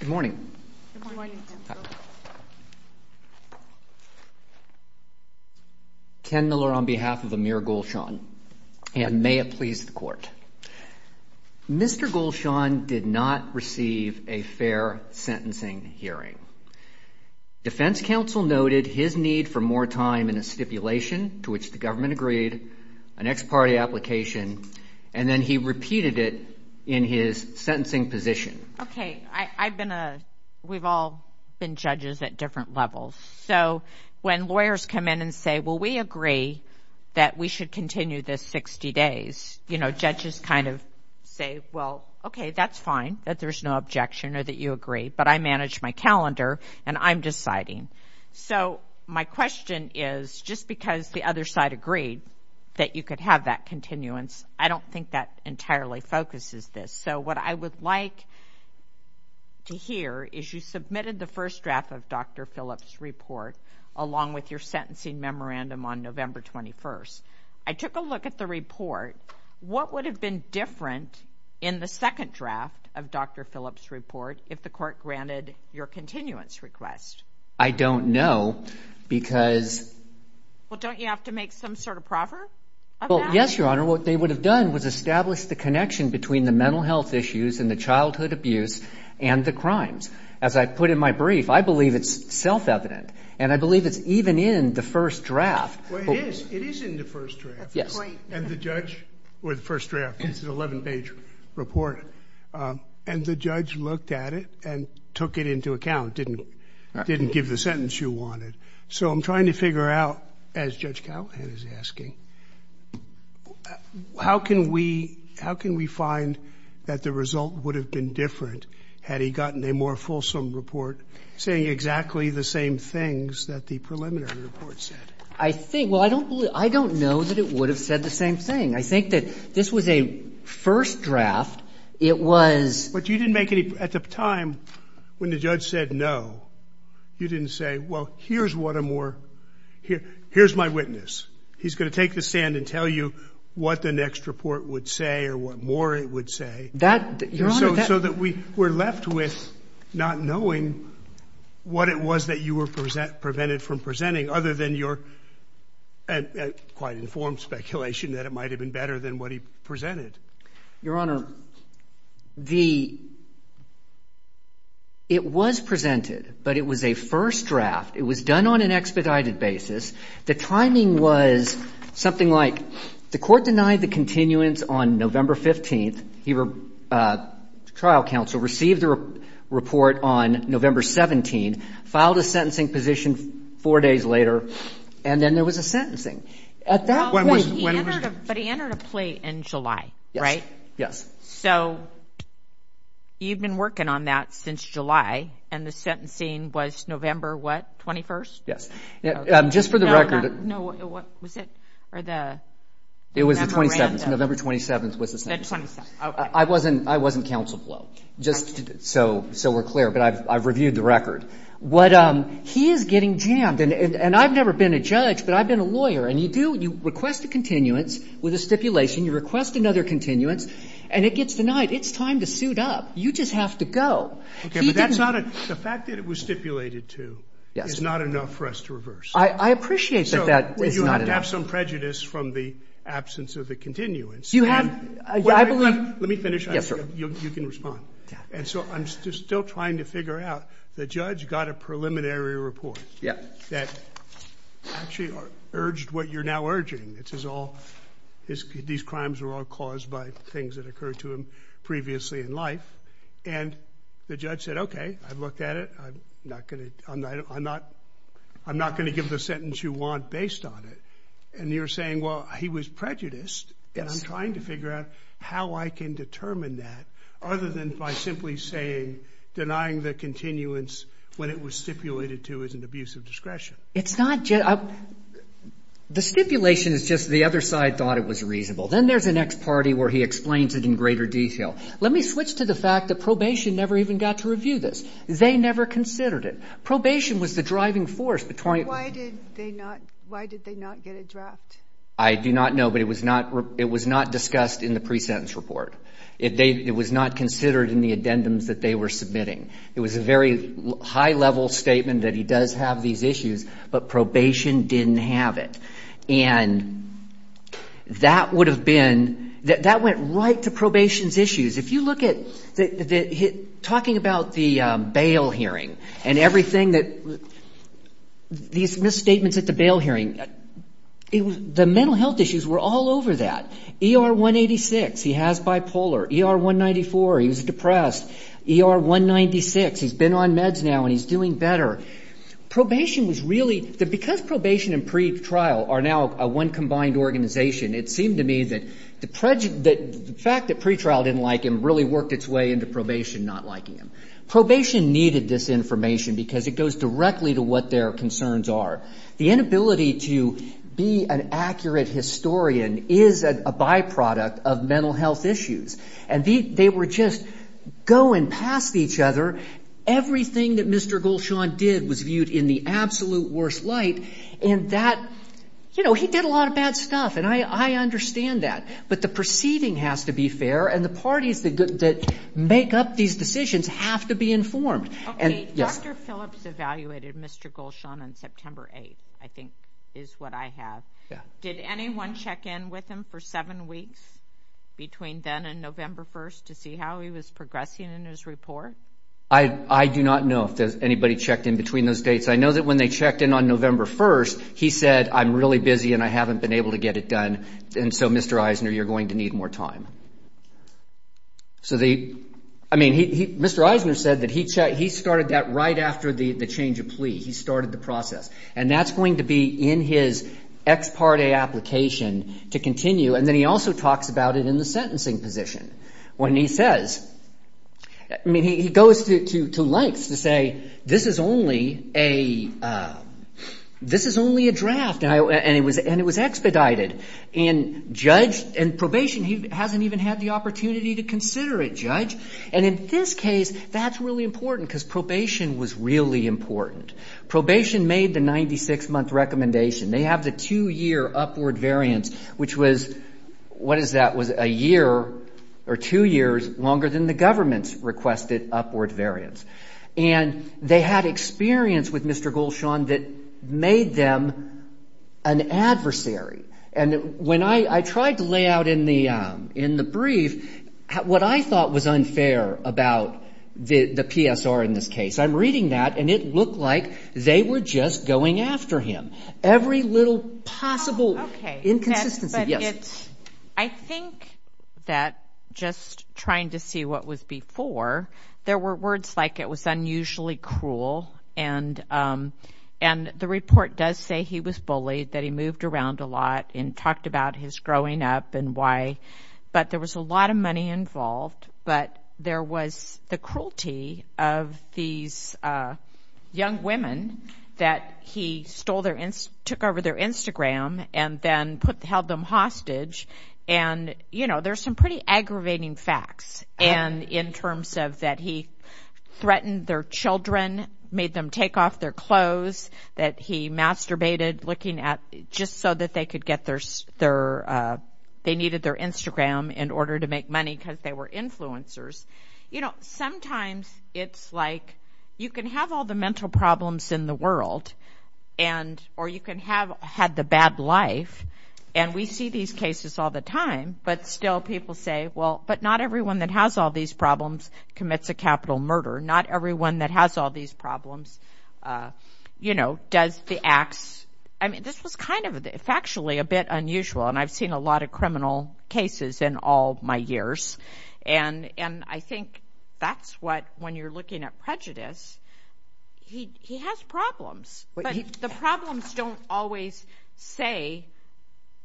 Good morning. Ken Miller on behalf of Amir Golshan and may it please the court. Mr. Golshan did not receive a fair sentencing hearing. Defense counsel noted his need for more time in a stipulation to which the government agreed, an ex parte application, and then he repeated it in his sentencing position. Okay I've been a we've all been judges at different levels so when lawyers come in and say well we agree that we should continue this 60 days you know judges kind of say well okay that's fine that there's no objection or that you agree but I manage my calendar and I'm deciding so my question is just because the other side agreed that you could have that continuance I don't think that entirely focuses this so what I would like to hear is you submitted the first draft of Dr. Phillips report along with your sentencing memorandum on November 21st I took a look at the report what would have been different in the second draft of Dr. Phillips report if the court granted your continuance request I don't know because well don't you have to make some sort of proffer well yes your honor what they would have done was establish the connection between the mental health issues and the childhood abuse and the crimes as I put in my brief I believe it's self-evident and I believe it's even in the first draft and the judge or the first draft it's an 11 page report and the judge looked at it and took it into account didn't didn't give the sentence you wanted so I'm trying to figure out as Judge Calhoun is asking how can we how can we find that the result would have been different had he gotten a more fulsome report saying exactly the same things that the preliminary report said I think well I don't I don't know that it would have said the same thing I think that this was a first draft it was but you didn't make any at the time when the judge said no you didn't say well here's what a more here here's my witness he's going to take the stand and tell you what the next report would say or what more it would say that you're so so that we were left with not knowing what it was that you were present prevented from presenting other than your quite informed speculation that it might have been better than what he presented your honor the it was presented but it was a first draft it was done on an expedited basis the timing was something like the court denied the continuance on november 15th he uh trial counsel received the report on november 17 filed a sentencing position four days later and then there was a sentencing at that point but he entered a plea in july right yes so you've been working on that since july and the sentencing was november what 21st yes yeah just for the record no what was it or the it was the 27th november 27th was the center i wasn't i wasn't counsel blow just so so we're clear but i've i've reviewed the record what um he is getting jammed and and i've never been a judge but i've been a lawyer and you do you request a continuance with a stipulation you request another continuance and it gets denied it's time to suit up you just have to go okay but that's not a the fact that it was stipulated to it's not enough for us to reverse i i appreciate that that is not to have some prejudice from the absence of the continuance you have i believe let me finish yes you can respond and so i'm still trying to figure out the judge got a preliminary report yeah that actually urged what you're now urging it is all his these crimes were all caused by things that occurred to him in life and the judge said okay i've looked at it i'm not gonna i'm not i'm not gonna give the sentence you want based on it and you're saying well he was prejudiced and i'm trying to figure out how i can determine that other than by simply saying denying the continuance when it was stipulated to as an abuse of discretion it's not just the stipulation is just the other side thought it was reasonable then there's the next party where he explains it in greater detail let me switch to the fact that probation never even got to review this they never considered it probation was the driving force between why did they not why did they not get a draft i do not know but it was not it was not discussed in the pre-sentence report if they it was not considered in the addendums that they were submitting it was a very high level statement that he does have these issues but probation didn't have it and that would have been that that went right to probation's issues if you look at the talking about the bail hearing and everything that these misstatements at the bail hearing it was the mental health issues were all over that er 186 he has bipolar er 194 he was depressed er 196 he's been on meds now and he's doing better probation was really because probation and pretrial are now a one combined organization it seemed to me that the prejudice that the fact that pretrial didn't like him really worked its way into probation not liking him probation needed this information because it goes directly to what their concerns are the inability to be an accurate historian is a byproduct of mental health issues and they were just going past each other everything that mr gulshan did was viewed in the absolute worst light and that you know he did a lot of bad stuff and i i understand that but the perceiving has to be fair and the parties that that make up these decisions have to be informed and yes dr phillips evaluated mr gulshan on september 8th i think is what i have yeah did anyone check in with him for seven weeks between then and november 1st to see how he was progressing in his report i i do not know if there's anybody checked in between those dates i know that when they checked in on november 1st he said i'm really busy and i haven't been able to get it done and so mr eisner you're going to need more time so the i mean he mr eisner said that he checked he started that right after the the change of plea he started the process and that's going to be in his ex parte application to continue and then he also talks about it in the sentencing position when he says i mean he goes to to lengths to say this is only a uh this is only a draft and it was and it was expedited and judge and probation he hasn't even had the opportunity to consider it judge and in this case that's really important because probation was really important probation made the 96 month recommendation they have the two-year upward variance which was what is that was a year or two years longer than the government's requested upward variance and they had experience with mr gold sean that made them an adversary and when i i tried to lay out in the um in the brief what i thought was unfair about the the psr in this case i'm reading that and it looked like they were just going after him every little possible okay inconsistency yes i think that just trying to see what was before there were words like it was unusually cruel and um and the report does say he was bullied that he moved around a lot and talked about his growing up and but there was a lot of money involved but there was the cruelty of these uh young women that he stole their took over their instagram and then put held them hostage and you know there's some pretty aggravating facts and in terms of that he threatened their children made them take off their that he masturbated looking at just so that they could get their their uh they needed their instagram in order to make money because they were influencers you know sometimes it's like you can have all the mental problems in the world and or you can have had the bad life and we see these cases all the time but still people say well but not everyone that has all these problems commits a capital murder not everyone that has all these problems uh you know does the acts i mean this was kind of factually a bit unusual and i've seen a lot of criminal cases in all my years and and i think that's what when you're looking at prejudice he he has problems but the problems don't always say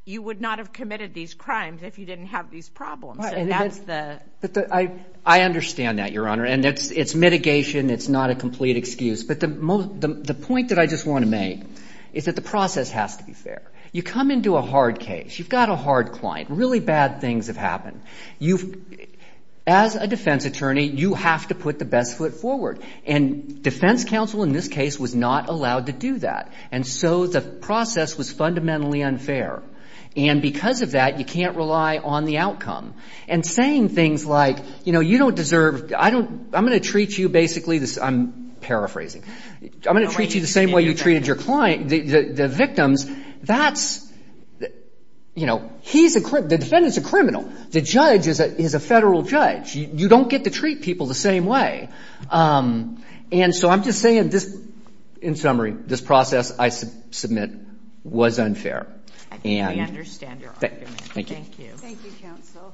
you would not have committed these crimes if you didn't have these problems that's the but i i understand that your honor and it's it's mitigation it's not a complete excuse but the most the point that i just want to make is that the process has to be fair you come into a hard case you've got a hard client really bad things have happened you've as a defense attorney you have to put the best foot forward and defense counsel in this case was not allowed to do that and so the process was fundamentally unfair and because of that you can't rely on the outcome and saying things like you know you don't deserve i don't i'm going to treat you basically this i'm paraphrasing i'm going to treat you the same way you treated your client the the victims that's you know he's a the defendant's a criminal the judge is a is a federal judge you don't get to people the same way um and so i'm just saying this in summary this process i submit was unfair we understand your argument thank you thank you counsel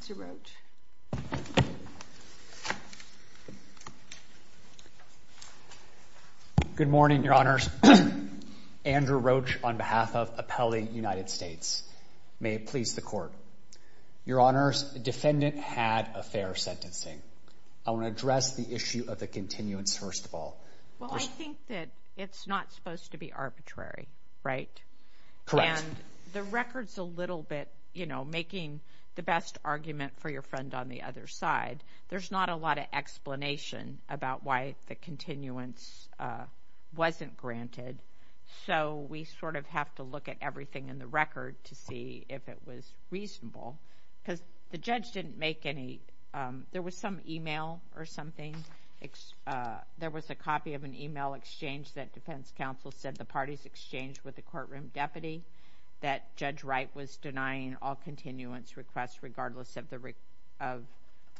mr roach good morning your honors andrew roach on behalf of appellee united states may it please the court your honors defendant had a fair sentencing i want to address the issue of the continuance first of all well i think that it's not supposed to be arbitrary right correct and the record's a little bit you know making the best argument for your friend on the other side there's not a lot of explanation about why the continuance uh wasn't granted so we sort of have to look at everything in the record to see if it was reasonable because the judge didn't make any um there was some email or something there was a copy of an email exchange that defense counsel said the parties exchanged with the courtroom deputy that judge wright was denying all continuance requests regardless of the of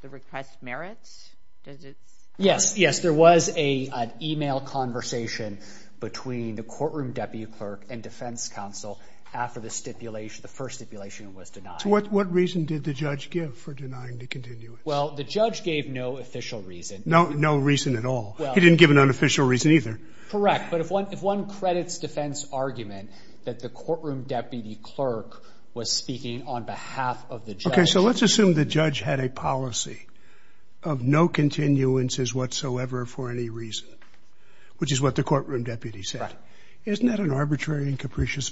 the request merits does it yes yes there was a an email conversation between the courtroom deputy and defense counsel after the stipulation the first stipulation was denied what what reason did the judge give for denying the continuance well the judge gave no official reason no no reason at all he didn't give an unofficial reason either correct but if one if one credits defense argument that the courtroom deputy clerk was speaking on behalf of the judge okay so let's assume the judge had a policy of no continuances whatsoever for any reason which is what the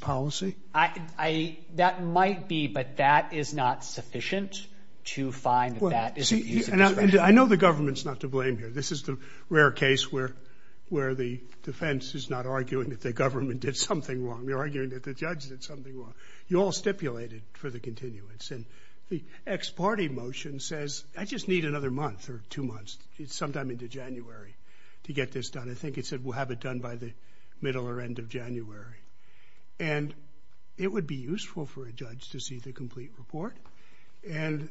policy i i that might be but that is not sufficient to find that i know the government's not to blame here this is the rare case where where the defense is not arguing that the government did something wrong they're arguing that the judge did something wrong you all stipulated for the continuance and the ex-party motion says i just need another month or two months it's sometime into january to get this done i think it said we'll have it done by the middle or end of january and it would be useful for a judge to see the complete report and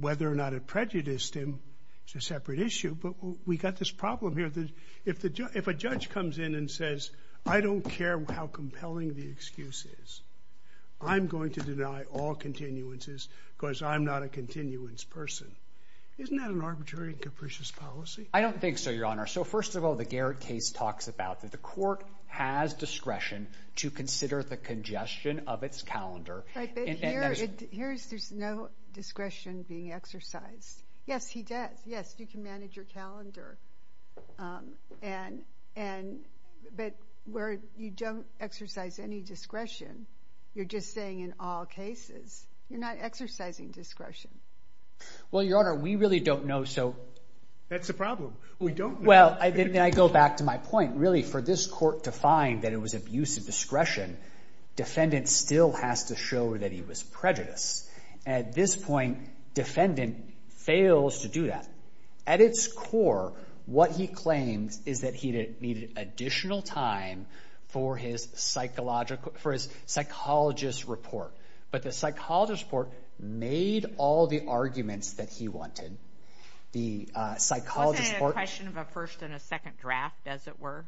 whether or not it prejudiced him it's a separate issue but we got this problem here that if the judge if a judge comes in and says i don't care how compelling the excuse is i'm going to deny all continuances because i'm not a continuance person isn't that an arbitrary capricious policy i don't think so your honor so first of all the garrett case talks about that court has discretion to consider the congestion of its calendar here's there's no discretion being exercised yes he does yes you can manage your calendar um and and but where you don't exercise any discretion you're just saying in all cases you're not exercising discretion well your honor we really don't know so that's the problem we don't well i then i go back to my point really for this court to find that it was abuse of discretion defendant still has to show that he was prejudiced at this point defendant fails to do that at its core what he claims is that he needed additional time for his psychological for his psychologist report but the psychologist report made all the arguments that he wanted the uh psychologist wasn't a question of a first and draft as it were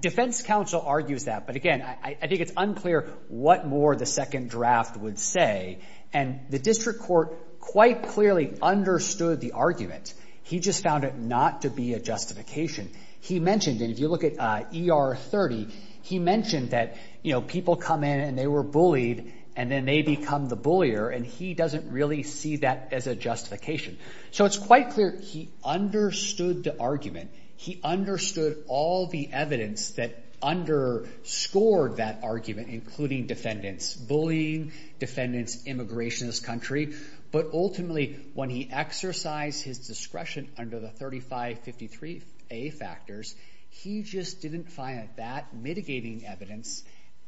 defense counsel argues that but again i think it's unclear what more the second draft would say and the district court quite clearly understood the argument he just found it not to be a justification he mentioned and if you look at er 30 he mentioned that you know people come in and they were bullied and then they become the bullier and he doesn't really see that as a justification so it's quite clear he understood the argument he understood all the evidence that underscored that argument including defendants bullying defendants immigrationist country but ultimately when he exercised his discretion under the 35 53 a factors he just didn't find that mitigating evidence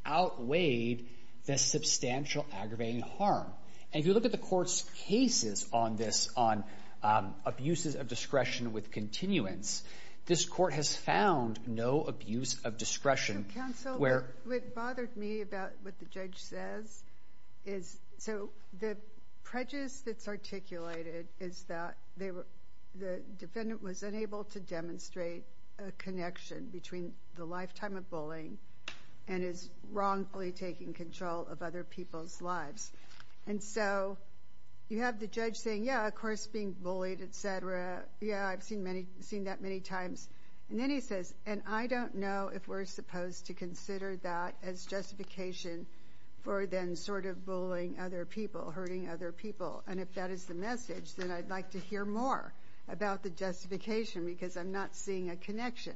outweighed the substantial aggravating harm and if you look at the court's cases on this on um abuses of discretion with continuance this court has found no abuse of discretion where it bothered me about what the judge says is so the prejudice that's articulated is that they were the defendant was unable to demonstrate a connection between the bullying and is wrongfully taking control of other people's lives and so you have the judge saying yeah of course being bullied etc yeah i've seen many seen that many times and then he says and i don't know if we're supposed to consider that as justification for then sort of bullying other people hurting other people and if that is the message then i'd like to hear more about the justification because i'm not seeing a connection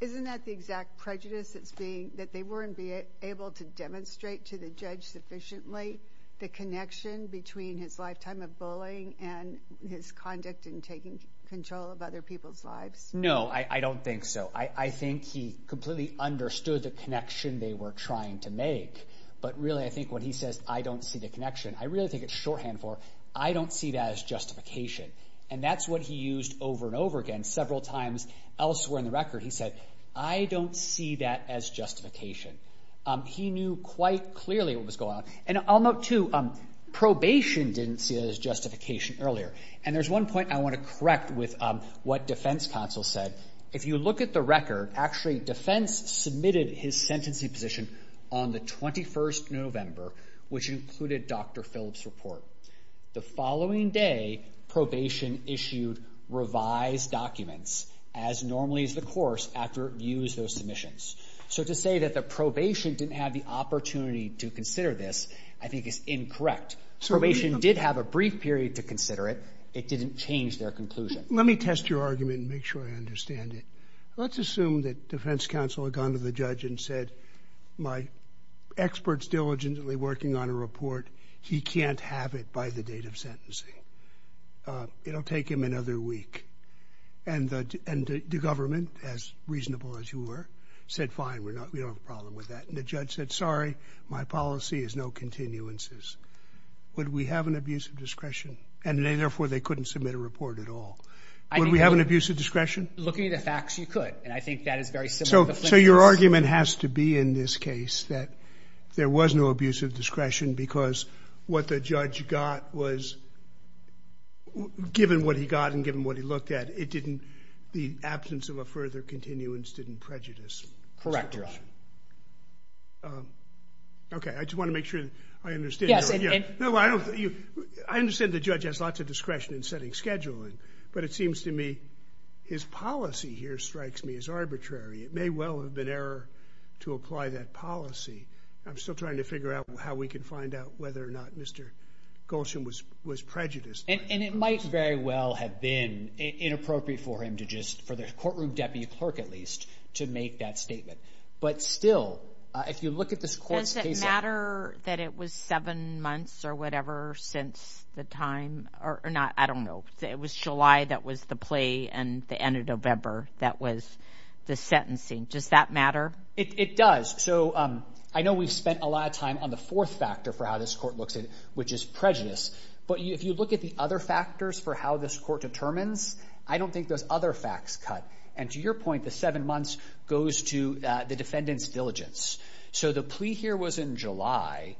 isn't that the exact prejudice that's being that they weren't able to demonstrate to the judge sufficiently the connection between his lifetime of bullying and his conduct and taking control of other people's lives no i i don't think so i i think he completely understood the connection they were trying to make but really i think what he says i don't see the connection i really think it's shorthand for i don't see that as justification and that's what he used over and over again several times elsewhere in the record he said i don't see that as justification um he knew quite clearly what was going on and i'll note too um probation didn't see that as justification earlier and there's one point i want to correct with um what defense counsel said if you look at the record actually defense submitted his sentencing position on the 21st november which included dr phillips report the following day probation issued revised documents as normally as the course after views those submissions so to say that the probation didn't have the opportunity to consider this i think is incorrect probation did have a brief period to consider it it didn't change their conclusion let me test your argument and make sure i understand it let's assume that defense counsel had gone to the judge and said my experts diligently working on a report he can't have it by the date of sentencing it'll take him another week and the and the government as reasonable as you were said fine we're not we don't have a problem with that and the judge said sorry my policy is no continuances would we have an abuse of discretion and therefore they couldn't submit a report at all i mean we have an abuse of discretion looking at the facts you could and i think that is very so so your argument has to be in this case that there was no abuse of discretion because what the judge got was given what he got and given what he looked at it didn't the absence of a further continuance didn't prejudice correct okay i just want to make sure i understand yes no i don't you i understand the judge has lots of discretion in setting scheduling but it seems to me his policy here strikes me as arbitrary it may well have been error to apply that policy i'm still trying to figure out how we can find out whether or not mr gulshan was was prejudiced and it might very well have been inappropriate for him to just for the courtroom deputy clerk at least to make that statement but still uh if you look at this matter that it was seven months or whatever since the time or not i don't know it was july that was the play and the end of november that was the sentencing does that matter it does so um i know we've spent a lot of time on the fourth factor for how this court looks at which is prejudice but if you look at the other factors for how this court determines i don't think those other facts cut and to your point the seven months goes to the defendant's diligence so the plea here was in july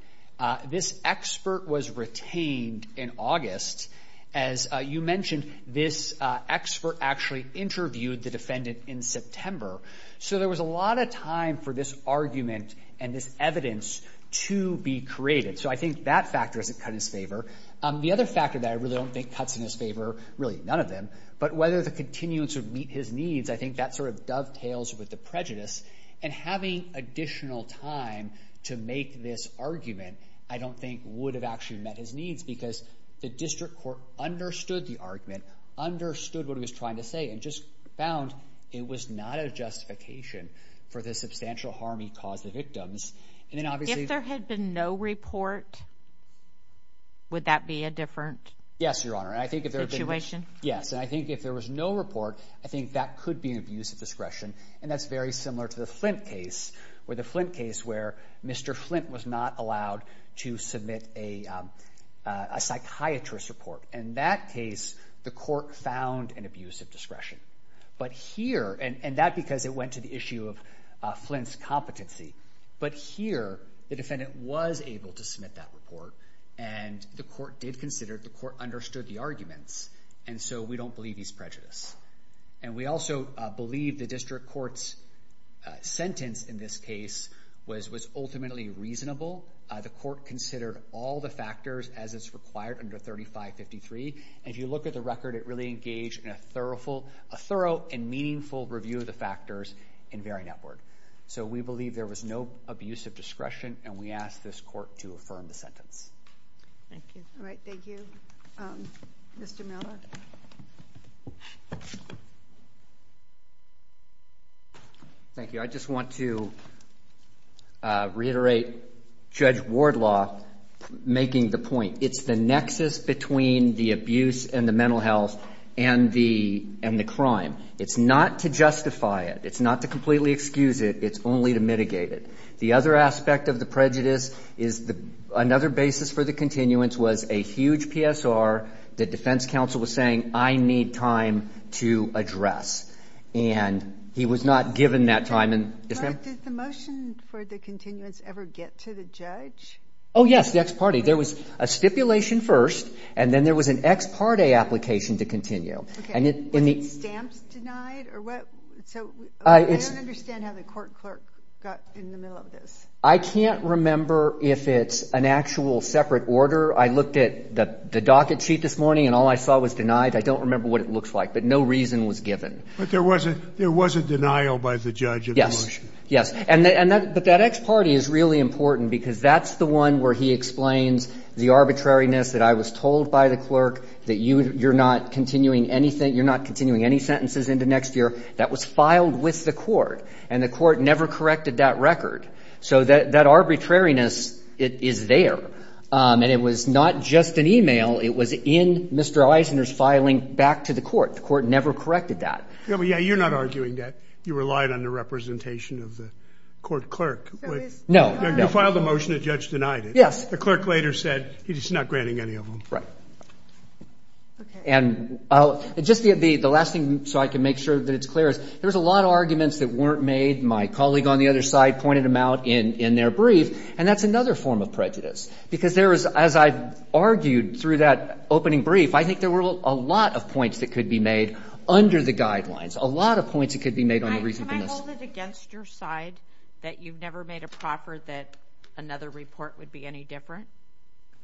this expert was retained in august as you mentioned this expert actually interviewed the defendant in september so there was a lot of time for this argument and this evidence to be created so i think that factor isn't cut in his favor the other factor that i really don't think cuts in his really none of them but whether the continuance would meet his needs i think that sort of dovetails with the prejudice and having additional time to make this argument i don't think would have actually met his needs because the district court understood the argument understood what he was trying to say and just found it was not a justification for the substantial harm he caused the victims and then obviously if there had been no report would that be a different yes your situation yes and i think if there was no report i think that could be an abuse of discretion and that's very similar to the flint case where the flint case where mr flint was not allowed to submit a a psychiatrist report in that case the court found an abuse of discretion but here and that because it went to the issue of flint's competency but here the defendant was able to that report and the court did consider the court understood the arguments and so we don't believe he's prejudiced and we also believe the district court's sentence in this case was was ultimately reasonable the court considered all the factors as is required under 35 53 and if you look at the record it really engaged in a thoroughful a thorough and meaningful review of the factors in very network so we believe there was no abuse of discretion and we ask this court to the sentence thank you all right thank you um mr miller thank you i just want to uh reiterate judge ward law making the point it's the nexus between the abuse and the mental health and the and the crime it's not to justify it it's not to completely excuse it it's only to mitigate it the other aspect of the prejudice is the another basis for the continuance was a huge psr the defense council was saying i need time to address and he was not given that time and did the motion for the continuance ever get to the judge oh yes the ex parte there was a stipulation first and then there was an ex parte application to and it in the stamps denied or what so i don't understand how the court clerk got in the middle of this i can't remember if it's an actual separate order i looked at the the docket sheet this morning and all i saw was denied i don't remember what it looks like but no reason was given but there wasn't there was a denial by the judge yes yes and and that but that x party is really important because that's the one where he explains the arbitrariness that i was told by clerk that you you're not continuing anything you're not continuing any sentences into next year that was filed with the court and the court never corrected that record so that that arbitrariness it is there and it was not just an email it was in mr eisner's filing back to the court the court never corrected that yeah well yeah you're not arguing that you relied on the representation of the court clerk no you filed a motion the judge denied it yes the clerk later said he's just not granting any of them right okay and i'll just the the last thing so i can make sure that it's clear is there's a lot of arguments that weren't made my colleague on the other side pointed them out in in their brief and that's another form of prejudice because there is as i've argued through that opening brief i think there were a lot of points that could be made under the guidelines a lot of points that could be made on the reason can i hold it against your side that you've never made a proffer that another report would be any different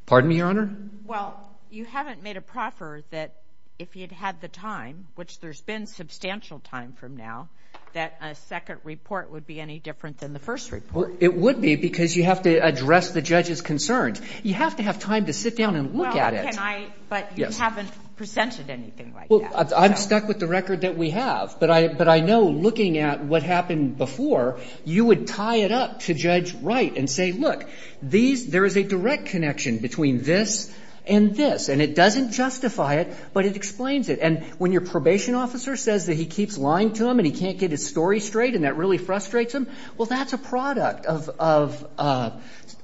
pardon me your honor well you haven't made a proffer that if you'd had the time which there's been substantial time from now that a second report would be any different than the first report it would be because you have to address the judge's concerns you have to have time to sit down and look at it can i but you haven't presented anything like that i'm stuck with the record that we have but i but i know looking at what happened before you would tie it up to judge right and say look these there is a direct connection between this and this and it doesn't justify it but it explains it and when your probation officer says that he keeps lying to him and he can't get his story straight and that really frustrates him well that's a product of of uh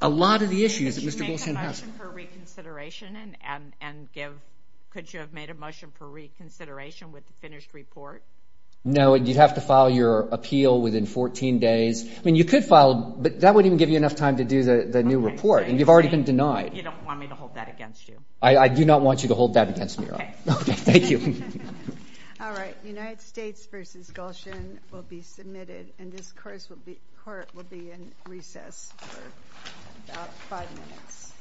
a lot of the issues for reconsideration and and give could you have made a motion for reconsideration with the finished report no and you'd have to file your appeal within 14 days i mean you could file but that wouldn't give you enough time to do the the new report and you've already been denied you don't want me to hold that against you i i do not want you to hold that against me okay okay thank you all right united states versus gulshan will be submitted and this course will be court will be recess for about five minutes